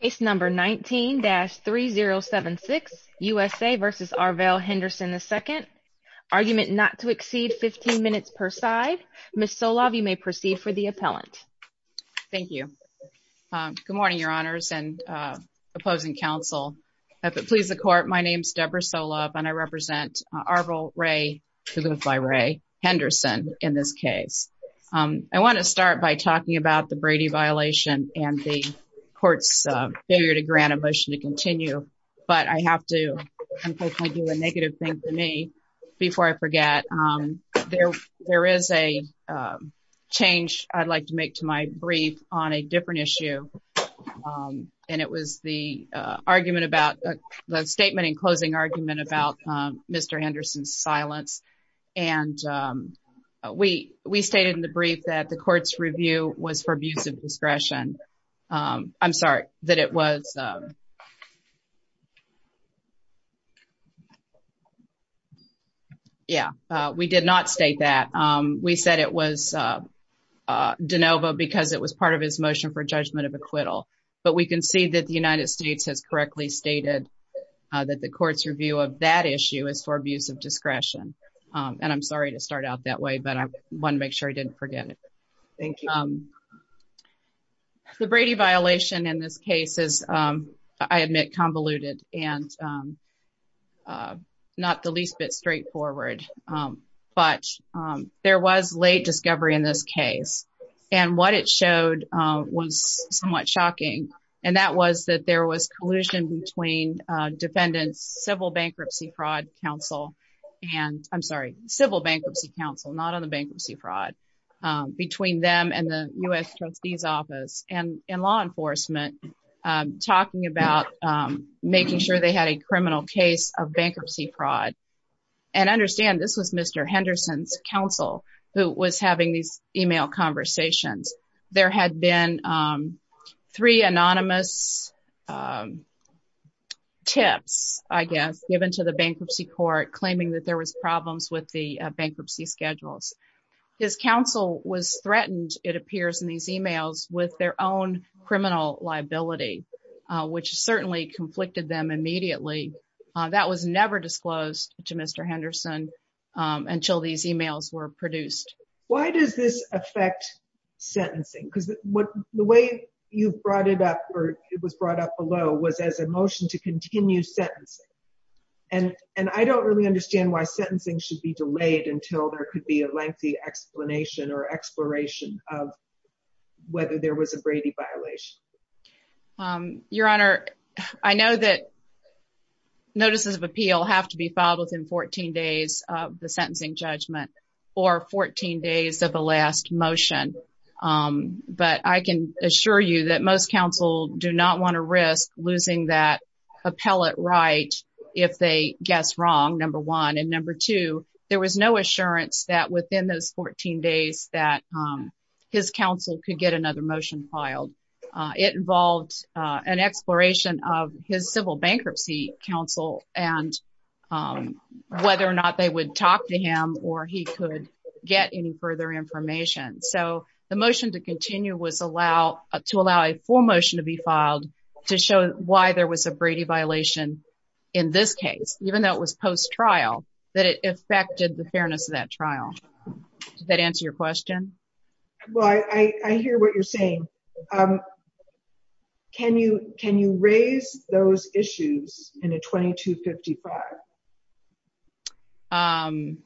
Case No. 19-3076, USA v. Arvel Henderson II Argument not to exceed 15 minutes per side. Ms. Solove, you may proceed for the appellant. Thank you. Good morning, your honors and opposing counsel. If it pleases the court, my name is Deborah Solove and I represent Arvel Ray Henderson in this case. I want to start by talking about the Brady violation and the court's failure to grant a motion to continue, but I have to do a negative thing to me before I forget. There is a change I'd like to make to my brief on a different issue and it was the argument about the statement in closing argument about Mr. Henderson's silence and we stated in the brief that the court's review was for abuse of discretion. I'm sorry, that it was yeah, we did not state that. We said it was de novo because it was part of his motion for judgment of acquittal, but we can see that the United States has correctly stated that the court's review of that issue is for abuse of discretion and I'm sorry to start out that way, but I want to make sure I didn't forget it. The Brady violation in this case is, I admit, convoluted and not the least bit straightforward, but there was late discovery in this case and what it showed was somewhat shocking and that was that there was collusion between defendants civil bankruptcy fraud counsel and I'm sorry, civil bankruptcy counsel, not on the bankruptcy fraud between them and the U.S. trustee's office and in law enforcement talking about making sure they had a criminal case of bankruptcy fraud and understand this was Mr. Henderson's counsel who was having these email conversations. There had been three anonymous tips, I guess, given to the bankruptcy court claiming that there was problems with the bankruptcy schedules. His counsel was threatened, it appears in these emails, with their own criminal liability, which certainly conflicted them immediately. That was never disclosed to Mr. Henderson until these emails were produced. Why does this affect sentencing because what the way you brought it up or it was brought up below was as a motion to continue sentencing and I don't really understand why sentencing should be delayed until there could be a lengthy explanation or exploration of whether there was a Brady violation. Your honor, I know that notices of appeal have to be filed within 14 days of the sentencing judgment or 14 days of the last motion, but I can assure you that most counsel do not want to risk losing that appellate right if they guess wrong, number one. And number two, there was no assurance that within those 14 days that his counsel could get another motion filed. It involved an exploration of his civil bankruptcy counsel and whether or not they would talk to him or he could get any further information. So to show why there was a Brady violation in this case, even though it was post-trial, that it affected the fairness of that trial. Did that answer your question? Well, I hear what you're saying. Can you raise those issues in a 2255?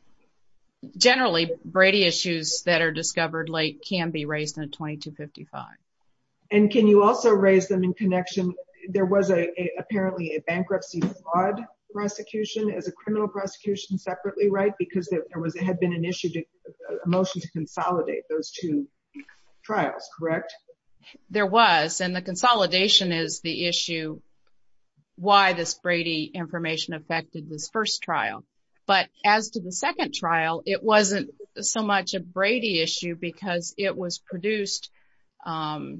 Generally, Brady issues that are discovered late can be raised in a There was apparently a bankruptcy fraud prosecution as a criminal prosecution separately, right? Because there had been an issue, a motion to consolidate those two trials, correct? There was, and the consolidation is the issue why this Brady information affected this first trial. But as to the second trial, it wasn't so much a Brady issue because it was produced, but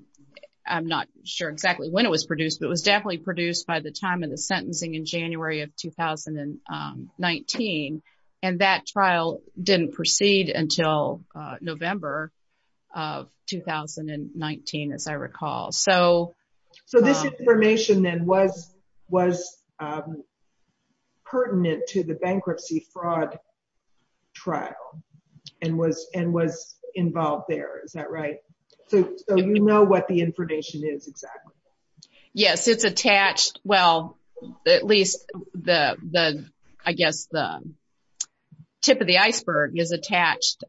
it was definitely produced by the time of the sentencing in January of 2019. And that trial didn't proceed until November of 2019, as I recall. So this information then was pertinent to the bankruptcy fraud trial and was involved there, is that right? So you know what the information is exactly? Yes, it's attached, well, at least the, I guess, the tip of the iceberg is attached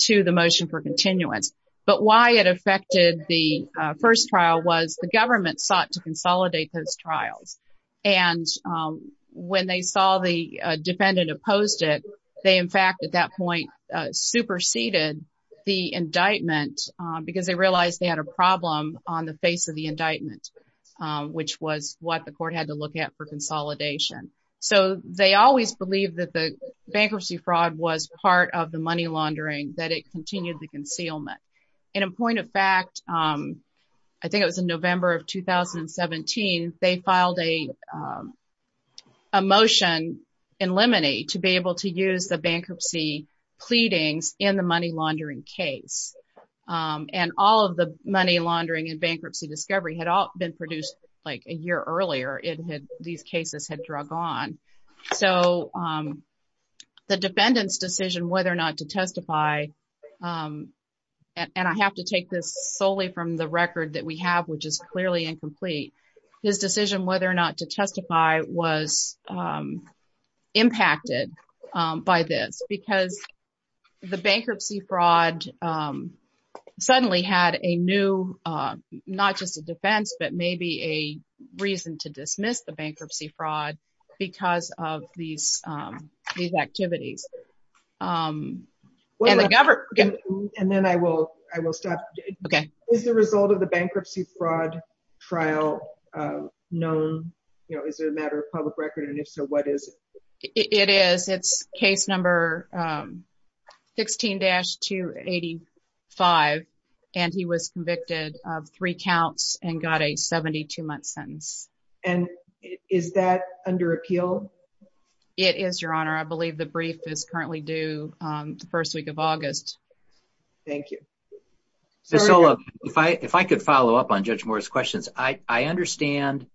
to the motion for continuance. But why it affected the first trial was the government sought to consolidate those trials. And when they saw the defendant opposed it, they in fact at that point superseded the indictment because they realized they had a problem on the face of the indictment, which was what the court had to look at for consolidation. So they always believed that the bankruptcy fraud was part of the money laundering, that it continued the concealment. And in point of fact, I think it was in November of 2017, they filed a motion in limine to be able to use the bankruptcy pleadings in the money laundering case. And all of the money laundering and bankruptcy discovery had all been produced like a year earlier, these cases had drug on. So the defendant's decision whether or not to testify, and I have to take this solely from the record that we have, which is clearly incomplete, his decision whether or not to testify was impacted by this because the bankruptcy fraud suddenly had a new, not just a defense, but maybe a reason to dismiss the bankruptcy fraud because of these activities. And then I will stop. Is the result of the bankruptcy fraud trial known? Is it a matter of public record? And if so, what is it? It is. It's case number 16-285, and he was convicted of three counts and got a 72-month sentence. And is that under appeal? It is, your honor. I believe the brief is currently due the first week of August. Thank you. Miss Ola, if I could follow up on Judge Moore's questions. I understand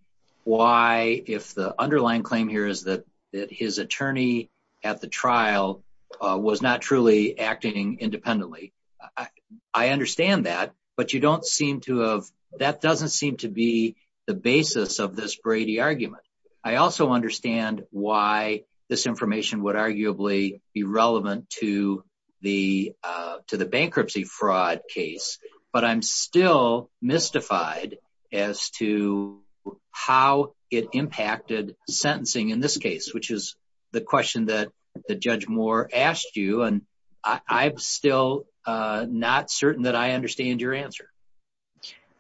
why if the underlying claim here is that his attorney at the trial was not truly acting independently. I understand that, but you don't seem to have, that doesn't seem to be the basis of this Brady argument. I also understand why this information would arguably be relevant to the bankruptcy fraud case, but I'm still mystified as to how it impacted sentencing in this case, which is the question that Judge Moore asked you, and I'm still not certain that I understand your answer.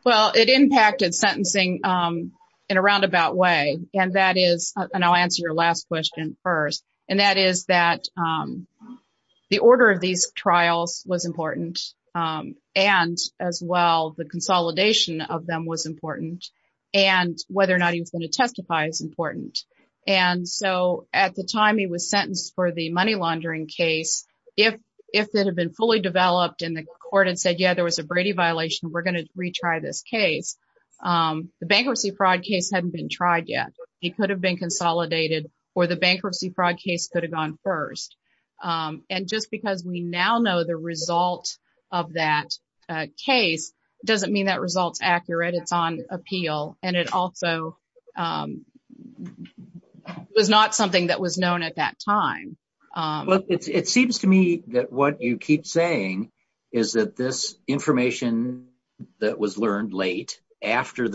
Well, it impacted sentencing in a roundabout way, and that is, and I'll answer your last question first, and that is that the order of these trials was important, and as well the consolidation of them was important, and whether or not he was going to testify is important. And so at the time he was sentenced for the money laundering case, if it had been fully developed and the court had said, yeah, there was a Brady violation, we're going to retry this case, the bankruptcy fraud case hadn't been tried yet, he could have been consolidated, or the bankruptcy fraud case could have gone first. And just because we now know the result of that case doesn't mean that result's accurate, it's on appeal, and it also was not something that was known at that time. Well, it seems to me that what you keep saying is that this information that was of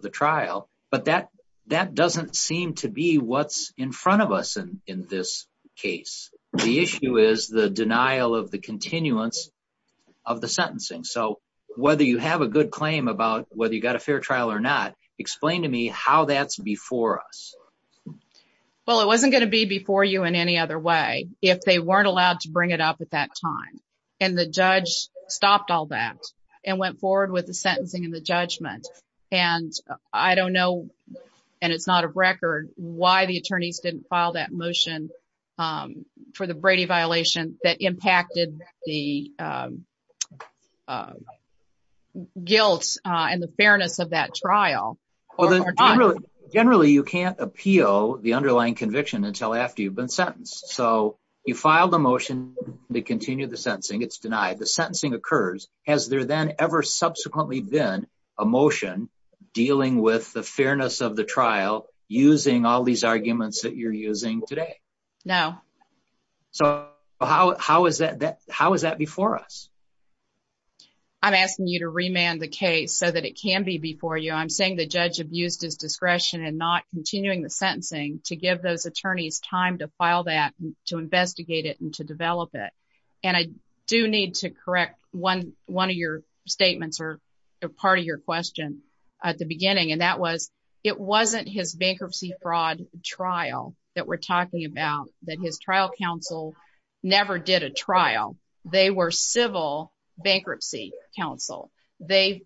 the trial, but that doesn't seem to be what's in front of us in this case. The issue is the denial of the continuance of the sentencing. So whether you have a good claim about whether you got a fair trial or not, explain to me how that's before us. Well, it wasn't going to be before you in any other way if they weren't allowed to bring it up at that time, and the judge stopped all that and went forward with the sentencing and the I don't know, and it's not a record, why the attorneys didn't file that motion for the Brady violation that impacted the guilt and the fairness of that trial. Generally, you can't appeal the underlying conviction until after you've been sentenced. So you filed a motion to continue the sentencing, it's denied, the sentencing occurs, has there then ever subsequently been a motion dealing with the fairness of the trial using all these arguments that you're using today? No. So how is that before us? I'm asking you to remand the case so that it can be before you. I'm saying the judge abused his discretion in not continuing the sentencing to give those attorneys time to file that, to investigate it, and to develop it, and I one of your statements, or a part of your question at the beginning, and that was it wasn't his bankruptcy fraud trial that we're talking about, that his trial counsel never did a trial. They were civil bankruptcy counsel. They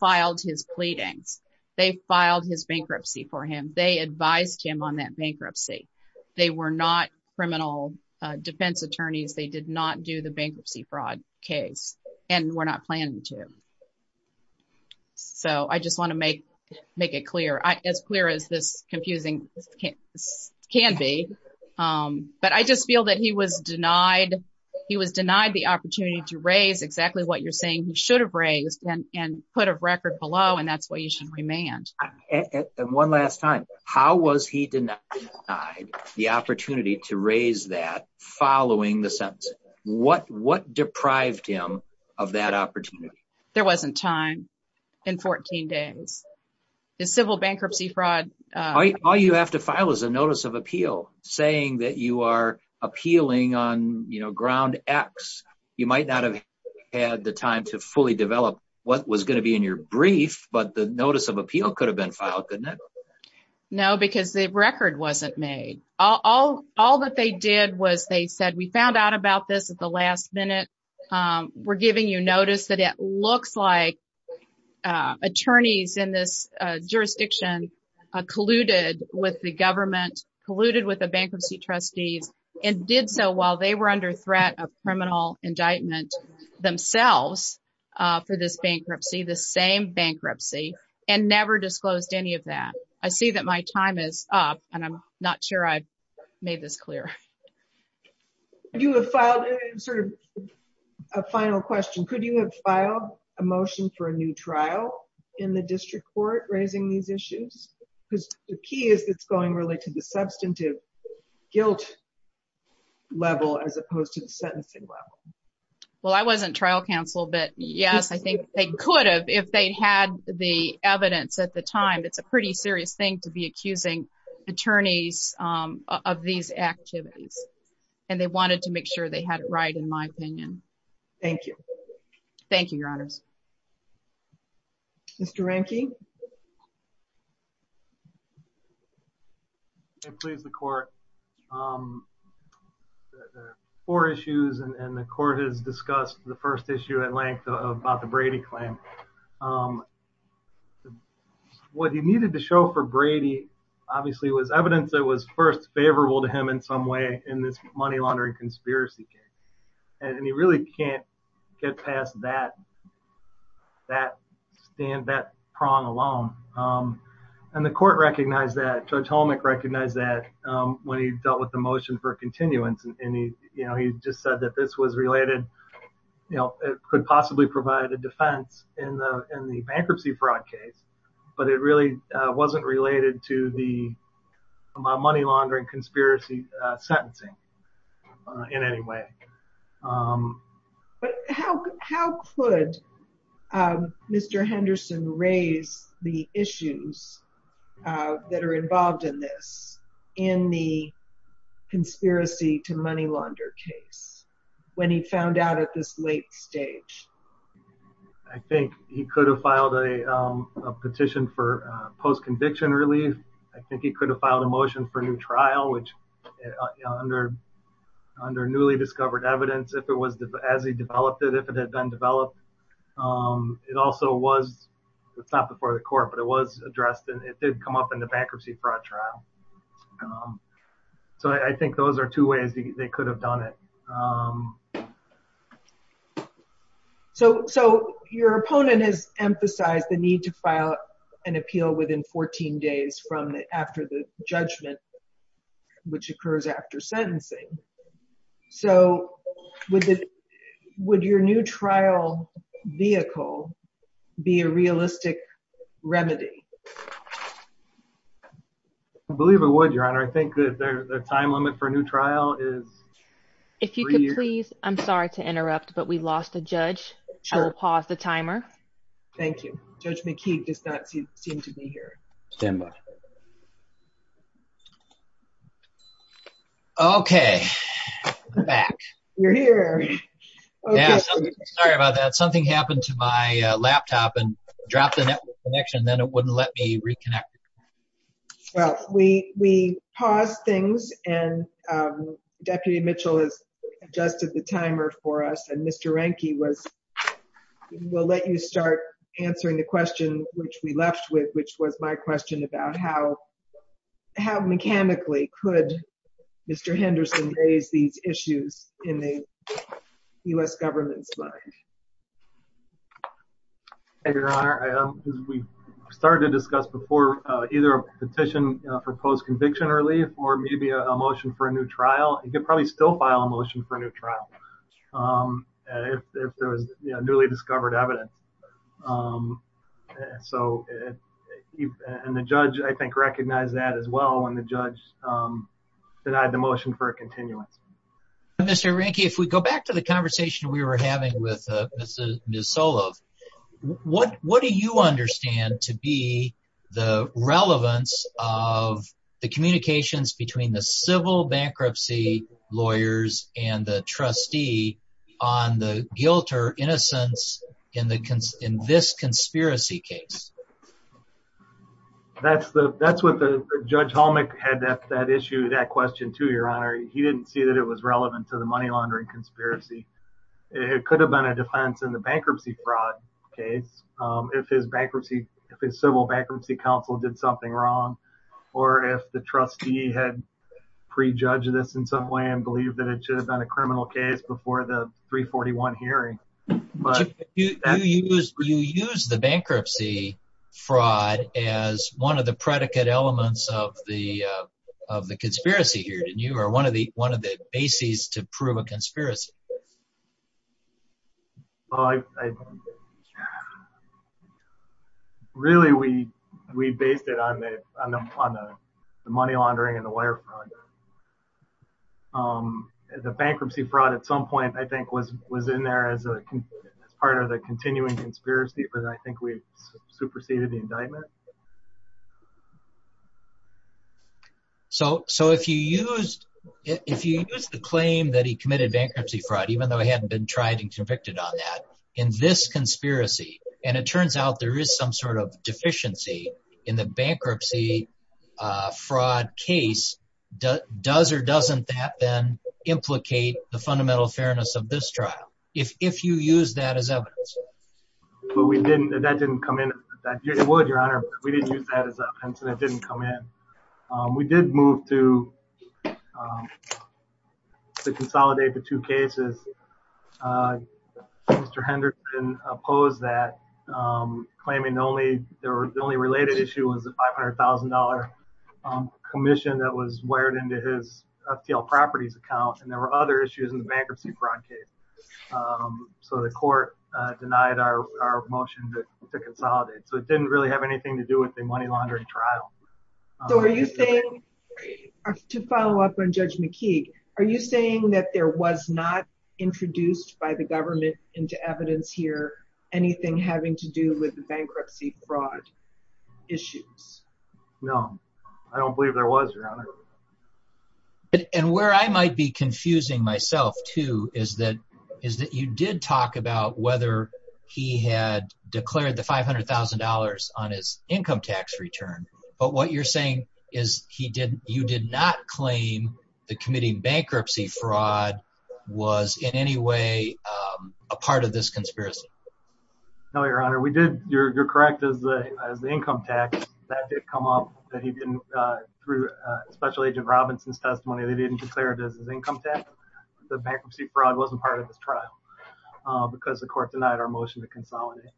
filed his pleadings. They filed his bankruptcy for him. They advised him on that bankruptcy. They were not criminal defense attorneys. They did not do the bankruptcy fraud case, and we're not planning to. So I just want to make it clear, as clear as this confusing can be, but I just feel that he was denied, he was denied the opportunity to raise exactly what you're saying he should have raised, and put a record below, and that's why you should remand. And one last time, how was he denied the opportunity to raise that following the sentence? What deprived him of that opportunity? There wasn't time in 14 days. The civil bankruptcy fraud... All you have to file is a notice of appeal saying that you are appealing on, you know, ground X. You might not have had the time to fully develop what was going to be in your brief, but the notice of appeal could have been filed, couldn't it? No, because the record wasn't made. All that they did was they said, we found out about this at the last minute. We're giving you notice that it looks like attorneys in this jurisdiction colluded with the government, colluded with the bankruptcy trustees, and did so while they were under threat of criminal indictment themselves for this bankruptcy, the same bankruptcy, and never disclosed any of that. I see that my time is up, and I'm not sure I made this clear. You have filed sort of a final question. Could you have filed a motion for a new trial in the district court raising these issues? Because the key is it's going really to the substantive guilt level as opposed to the sentencing level. Well, I wasn't trial counsel, but yes, I think they could have if they had the evidence at the time. It's a pretty serious thing to be accusing attorneys of these activities, and they wanted to make sure they had it right, in my opinion. Thank you. Thank you, your honors. Mr. Ranke? If it pleases the court, there are four issues, and the court has discussed the first issue at length about the Brady claim. What he needed to show for Brady, obviously, was evidence that was first favorable to him in some way in this money laundering conspiracy case, and he really can't get past that prong alone, and the court recognized that. Judge Holmick recognized that when he dealt with the motion for continuance, and he just said that this was related, you know, it could possibly provide a defense in the in the bankruptcy fraud case, but it really wasn't related to the money laundering conspiracy sentencing in any way. But how could Mr. Henderson raise the issues that are involved in this in the conspiracy to money launder case, when he found out at this late stage? I think he could have filed a petition for post-conviction relief. I think he could have filed a motion for new trial, which under newly discovered evidence, if it was as he developed it, if it had been developed, it also was, it's not before the court, but it was addressed, and it did come up in the bankruptcy fraud trial. So I think those are two ways they could have done it. So your opponent has emphasized the need to file an appeal within 14 days from the after the judgment, which occurs after sentencing. So would your new trial vehicle be a realistic remedy? I believe it would, Your Honor. I think that the time limit for a new trial is... If you could please, I'm sorry to interrupt, but we lost a judge. I will pause the timer. Thank you. Judge McKee does not seem to be here. Okay, I'm back. You're here. Yeah, sorry about that. Something happened to my laptop and dropped the network connection, and then it wouldn't let me reconnect. Well, we paused things, and Deputy Mitchell has adjusted the timer for us, and Mr. Ranky will let you start answering the question which we left with, which was my question about how mechanically could Mr. Henderson raise these issues in the U.S. government's mind? Thank you, Your Honor. As we started to discuss before, either a petition for post-conviction relief or maybe a motion for a new trial. You could probably still file a motion for a new trial if there was newly discovered evidence. And the judge, I think, recognized that as well when the judge denied the motion for a continuance. Mr. Ranky, if we go back to the Ms. Solove, what do you understand to be the relevance of the communications between the civil bankruptcy lawyers and the trustee on the guilt or innocence in this conspiracy case? That's what Judge Holmick had that issue, that question, too, Your Honor. He didn't see that it was relevant to the money laundering conspiracy. It could have been a defense in the bankruptcy fraud case if his civil bankruptcy counsel did something wrong or if the trustee had prejudged this in some way and believed that it should have been a criminal case before the 341 hearing. You use the bankruptcy fraud as one of the predicate elements of the conspiracy here, didn't you, or one of the bases to prove a bankruptcy fraud? Really, we based it on the money laundering and the wire fraud. The bankruptcy fraud at some point, I think, was in there as part of the continuing conspiracy, but I think we superseded the indictment. So, if you used the claim that he committed bankruptcy fraud, even though he hadn't been tried and convicted on that, in this conspiracy, and it turns out there is some sort of deficiency in the bankruptcy fraud case, does or doesn't that then implicate the fundamental fairness of this trial, if you use that as evidence? Well, we didn't. That didn't come in. It would, Your Honor, but we didn't use that as evidence and it didn't come in. We did move to Mr. Henderson opposed that, claiming the only related issue was the $500,000 commission that was wired into his FTL properties account, and there were other issues in the bankruptcy fraud case. So, the court denied our motion to consolidate. So, it didn't really have anything to do with the money laundering trial. So, are you saying, to follow up on Judge McKeague, are you saying that there was not introduced by the government into evidence here, anything having to do with the bankruptcy fraud issues? No, I don't believe there was, Your Honor. And where I might be confusing myself, too, is that you did talk about whether he had declared the $500,000 on his income tax return, but what you're saying is you did not claim the committing bankruptcy fraud was, in any way, a part of this conspiracy. No, Your Honor. We did, you're correct, as the income tax that did come up that he didn't, through Special Agent Robinson's testimony, they didn't declare it as his income tax. The bankruptcy fraud wasn't part of this trial because the court denied our motion to consolidate.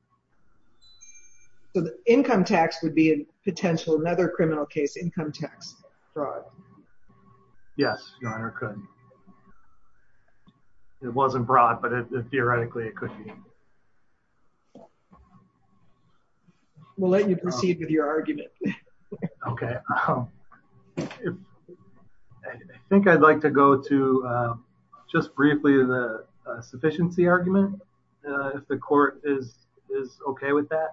So, the income tax would be a potential, another criminal case, income tax fraud? Yes, Your Honor, it could. It wasn't fraud, but it theoretically, it could be. We'll let you proceed with your argument. Okay. I think I'd like to go to, just briefly, the is okay with that.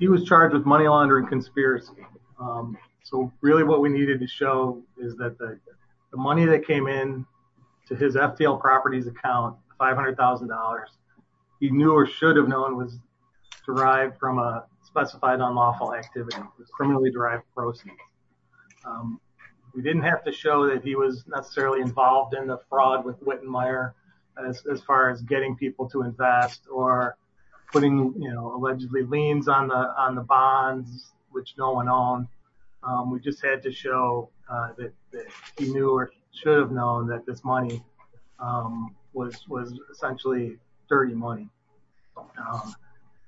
He was charged with money laundering conspiracy. So, really, what we needed to show is that the money that came in to his FTL Properties account, $500,000, he knew or should have known was derived from a specified unlawful activity, a criminally derived proceed. We didn't have to show that he was necessarily involved in the fraud with Wittenmeyer, as far as getting people to invest or putting, you know, allegedly liens on the bonds, which no one owned. We just had to show that he knew or should have known that this money was essentially dirty money.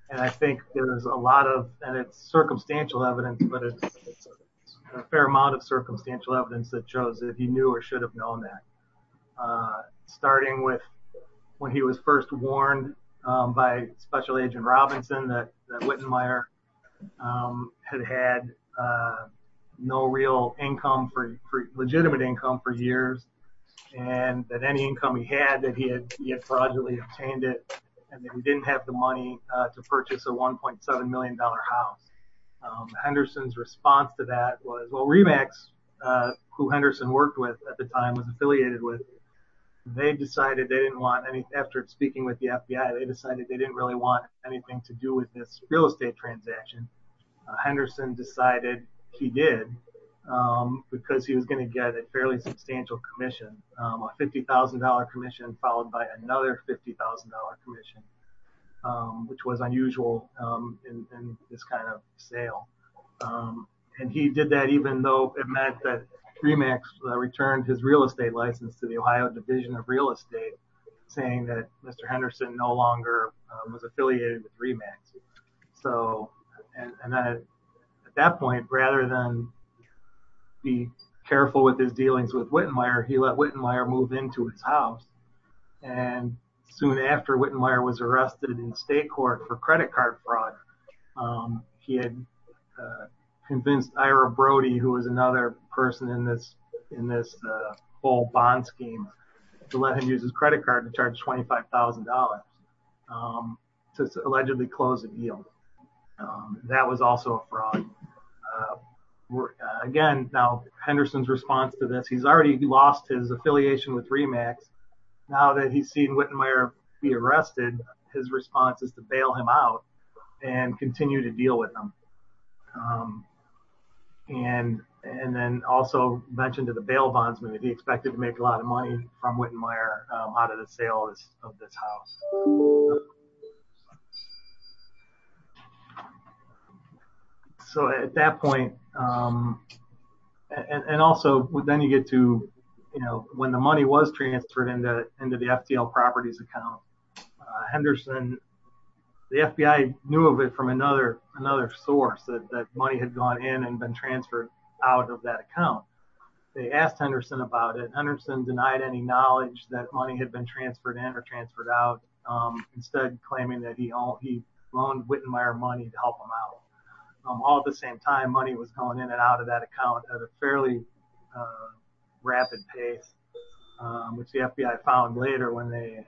And I think there's a lot of, and it's circumstantial evidence, but it's a fair amount of circumstantial evidence that shows that he knew or should have known that. Starting with when he was first warned by Special Agent Robinson that Wittenmeyer had had no real income for, legitimate income for years, and that any income he had, that he had fraudulently obtained it, and that he didn't have the money to purchase a $1.7 million house. Henderson's response to that was, well, who Henderson worked with at the time, was affiliated with, they decided they didn't want any, after speaking with the FBI, they decided they didn't really want anything to do with this real estate transaction. Henderson decided he did, because he was going to get a fairly substantial commission, a $50,000 commission, followed by another $50,000 commission, which was unusual in this kind of sale. And he did that even though it meant that Dreamax returned his real estate license to the Ohio Division of Real Estate, saying that Mr. Henderson no longer was affiliated with Dreamax. So, and then at that point, rather than be careful with his dealings with Wittenmeyer, he let Wittenmeyer move into his house. And soon after, Wittenmeyer was arrested in state court for credit card fraud. He had convinced Ira Brody, who was another person in this, in this full bond scheme, to let him use his credit card to charge $25,000 to allegedly close the deal. That was also a fraud. Again, now Henderson's response to this, he's already lost his affiliation with now that he's seen Wittenmeyer be arrested, his response is to bail him out and continue to deal with him. And, and then also mentioned to the bail bondsman that he expected to make a lot of money from Wittenmeyer out of the sales of this house. So at that point, and also then you get to, when the money was transferred into the FTL Properties account, Henderson, the FBI knew of it from another source, that money had gone in and been transferred out of that account. They asked Henderson about it. Henderson denied any knowledge that money had been transferred in or transferred out, instead claiming that he loaned Wittenmeyer money to help him out. All at the same time, money was going in and out of that account at a fairly rapid pace, which the FBI found later when they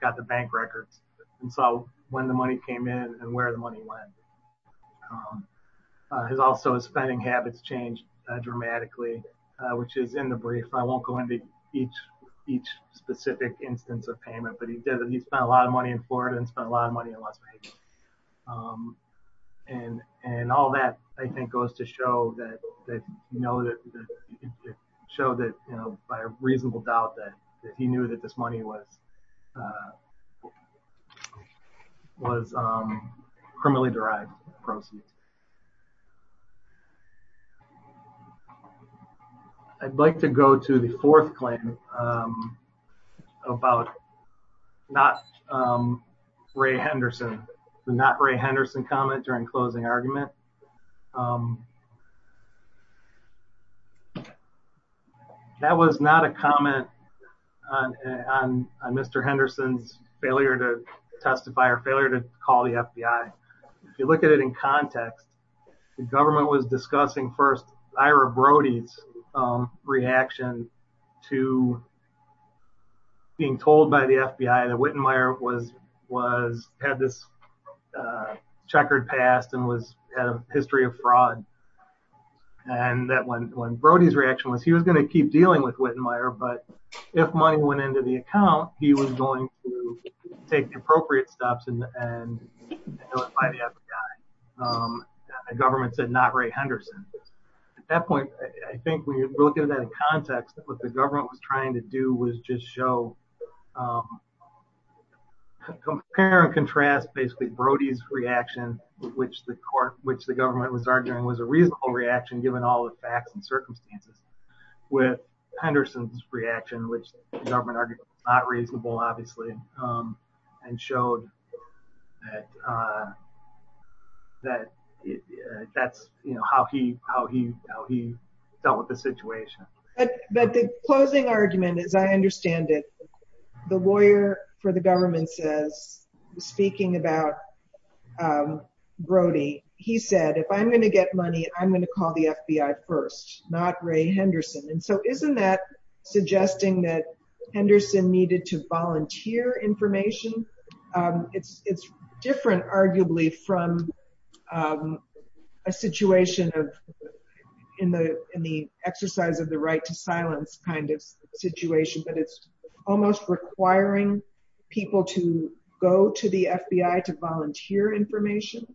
got the bank records and saw when the money came in and where the money went. He's also, his spending habits changed dramatically, which is in the brief. I won't go into each specific instance of payment, but he did, he spent a lot of money in Florida and spent a lot of money in West Florida. It showed that by a reasonable doubt that he knew that this money was criminally derived proceeds. I'd like to go to the fourth claim about not Ray Henderson, the not Ray Henderson comment during closing argument. That was not a comment on Mr. Henderson's failure to testify or failure to call the FBI. If you look at it in context, the government was discussing first Ira Brody's reaction to being told by the FBI that Wittenmeyer had this checkered past and had a history of fraud. And that when Brody's reaction was he was going to keep dealing with Wittenmeyer, but if money went into the account, he was going to take the appropriate steps and notify the FBI. The government said not Ray Henderson. At that point, I think when you look at it in context, what the government was trying to do was just show, compare and contrast basically Brody's reaction, which the court, which the reasonable reaction, given all the facts and circumstances with Henderson's reaction, which the government argued was not reasonable, obviously, and showed that that's how he dealt with the situation. But the closing argument, as I understand it, the lawyer for the government says, speaking about Brody, he said, if I'm going to get money, I'm going to call the FBI first, not Ray Henderson. And so isn't that suggesting that Henderson needed to volunteer information? It's different, arguably, from a situation in the exercise of the right to silence kind of situation, but it's almost requiring people to go to the FBI to volunteer information.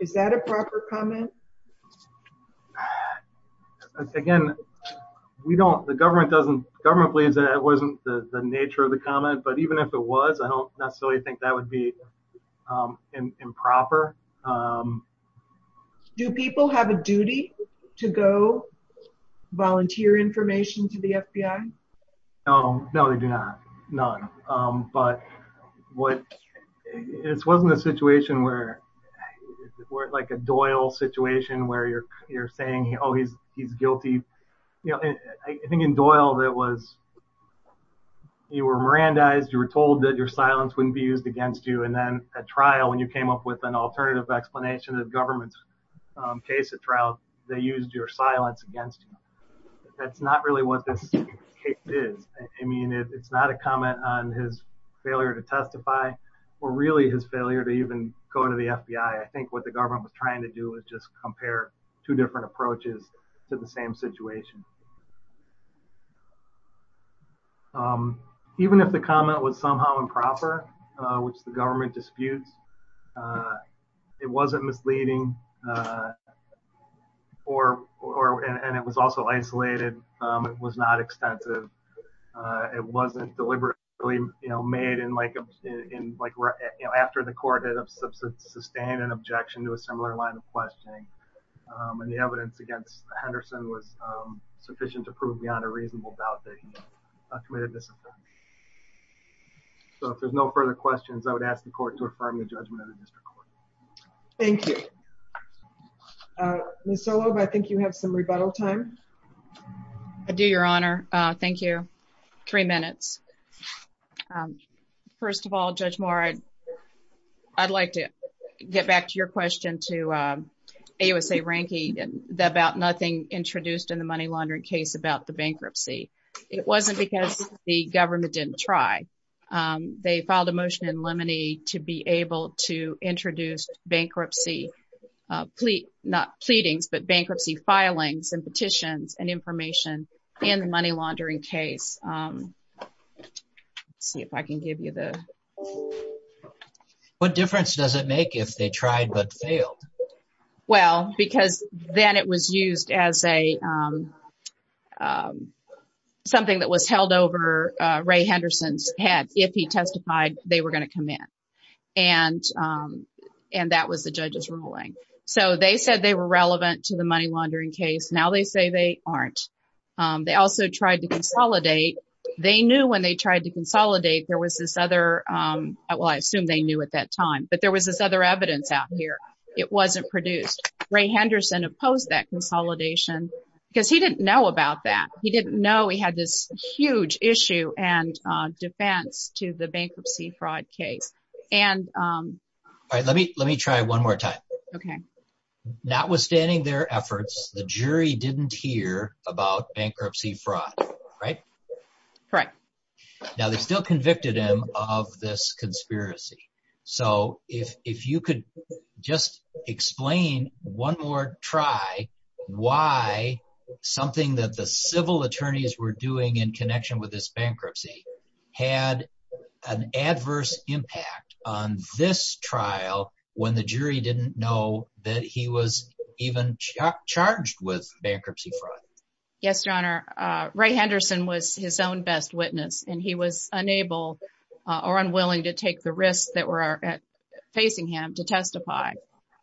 Is that a proper comment? Again, we don't, the government doesn't, government believes that it wasn't the nature of the comment, but even if it was, I don't necessarily think that would be improper. Do people have a duty to go volunteer information to the FBI? Oh, no, they do not, none. But what, it wasn't a situation where, like a Doyle situation where you're saying, oh, he's guilty. I think in Doyle, that was, you were Mirandized, you were told that your silence wouldn't be used against you. And then at trial, when you came up with an alternative explanation of the government's case at trial, they used your silence against you. That's not really what this case is. I mean, it's not a comment on his failure to testify, or really his failure to even go to the FBI. I think what the government was trying to do was just compare two different approaches to the same situation. Even if the comment was somehow improper, which the government disputes, it wasn't isolated. It was not extensive. It wasn't deliberately made in like, after the court had sustained an objection to a similar line of questioning. And the evidence against Henderson was sufficient to prove beyond a reasonable doubt that he committed disaffirmation. So if there's no further questions, I would ask the court to affirm the judgment of the district court. Thank you. Ms. Zorlob, I think you have some rebuttal time. I do, Your Honor. Thank you. Three minutes. First of all, Judge Moore, I'd like to get back to your question to AUSA Rankey about nothing introduced in the money laundering case about the bankruptcy. It wasn't because the government didn't try. They filed a motion in limine to be able to introduce bankruptcy, not pleadings, but information in the money laundering case. Let's see if I can give you the... What difference does it make if they tried but failed? Well, because then it was used as something that was held over Ray Henderson's head. If he testified, they were going to come in. And that was the judge's ruling. So they said they were relevant to the money laundering case. Now they say they aren't. They also tried to consolidate. They knew when they tried to consolidate, there was this other... Well, I assume they knew at that time, but there was this other evidence out here. It wasn't produced. Ray Henderson opposed that consolidation because he didn't know about that. He didn't know he had this huge issue and defense to the bankruptcy fraud case. All right, let me try one more time. Okay. Notwithstanding their efforts, the jury didn't hear about bankruptcy fraud, right? Correct. Now they still convicted him of this conspiracy. So if you could just explain one more try why something that the civil attorneys were doing in connection with this bankruptcy had an adverse impact on this trial when the jury didn't know that he was even charged with bankruptcy fraud? Yes, Your Honor. Ray Henderson was his own best witness, and he was unable or unwilling to take the risks that were facing him to testify.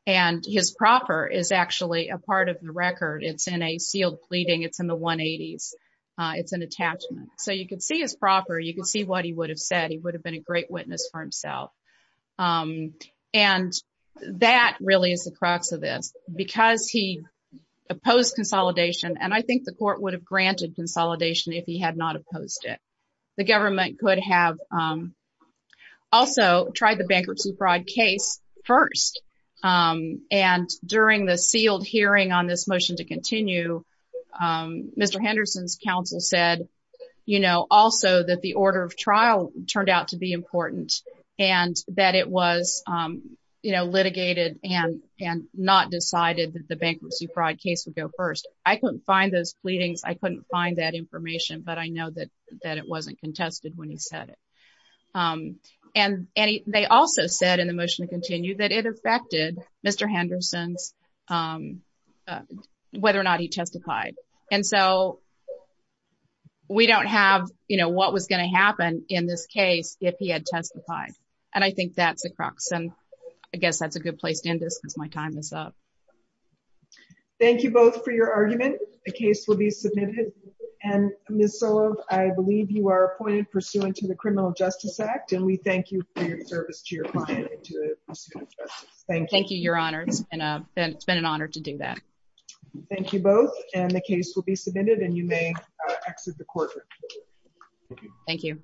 And his proffer is actually a part of the record. It's in a sealed pleading. It's in the 180s. It's an attachment. So you could see his proffer. You could see what he would have said. He would have been a great witness for himself. And that really is the crux of this, because he opposed consolidation. And I think the court would have granted consolidation if he had not opposed it. The government could have also tried the bankruptcy fraud case first. And during the sealed hearing on this motion to continue, Mr. Henderson's counsel said also that the order of trial turned out to be important. And that it was litigated and not decided that the bankruptcy fraud case would go first. I couldn't find those pleadings. I couldn't find that information. But I know that it wasn't contested when he said it. And they also said in the motion to continue that it affected Mr. Henderson's whether or not he testified. And so we don't have what was going to happen in this case if he had testified. And I think that's the crux. And I guess that's a good place to end this because my time is up. Thank you both for your argument. The case will be submitted. And Ms. Sullivan, I believe you are appointed pursuant to the Criminal Justice Act. And we thank you for your service to your client. Thank you, Your Honor. It's been an honor to do that. Thank you both. And the case will be submitted and you may exit the courtroom. Thank you.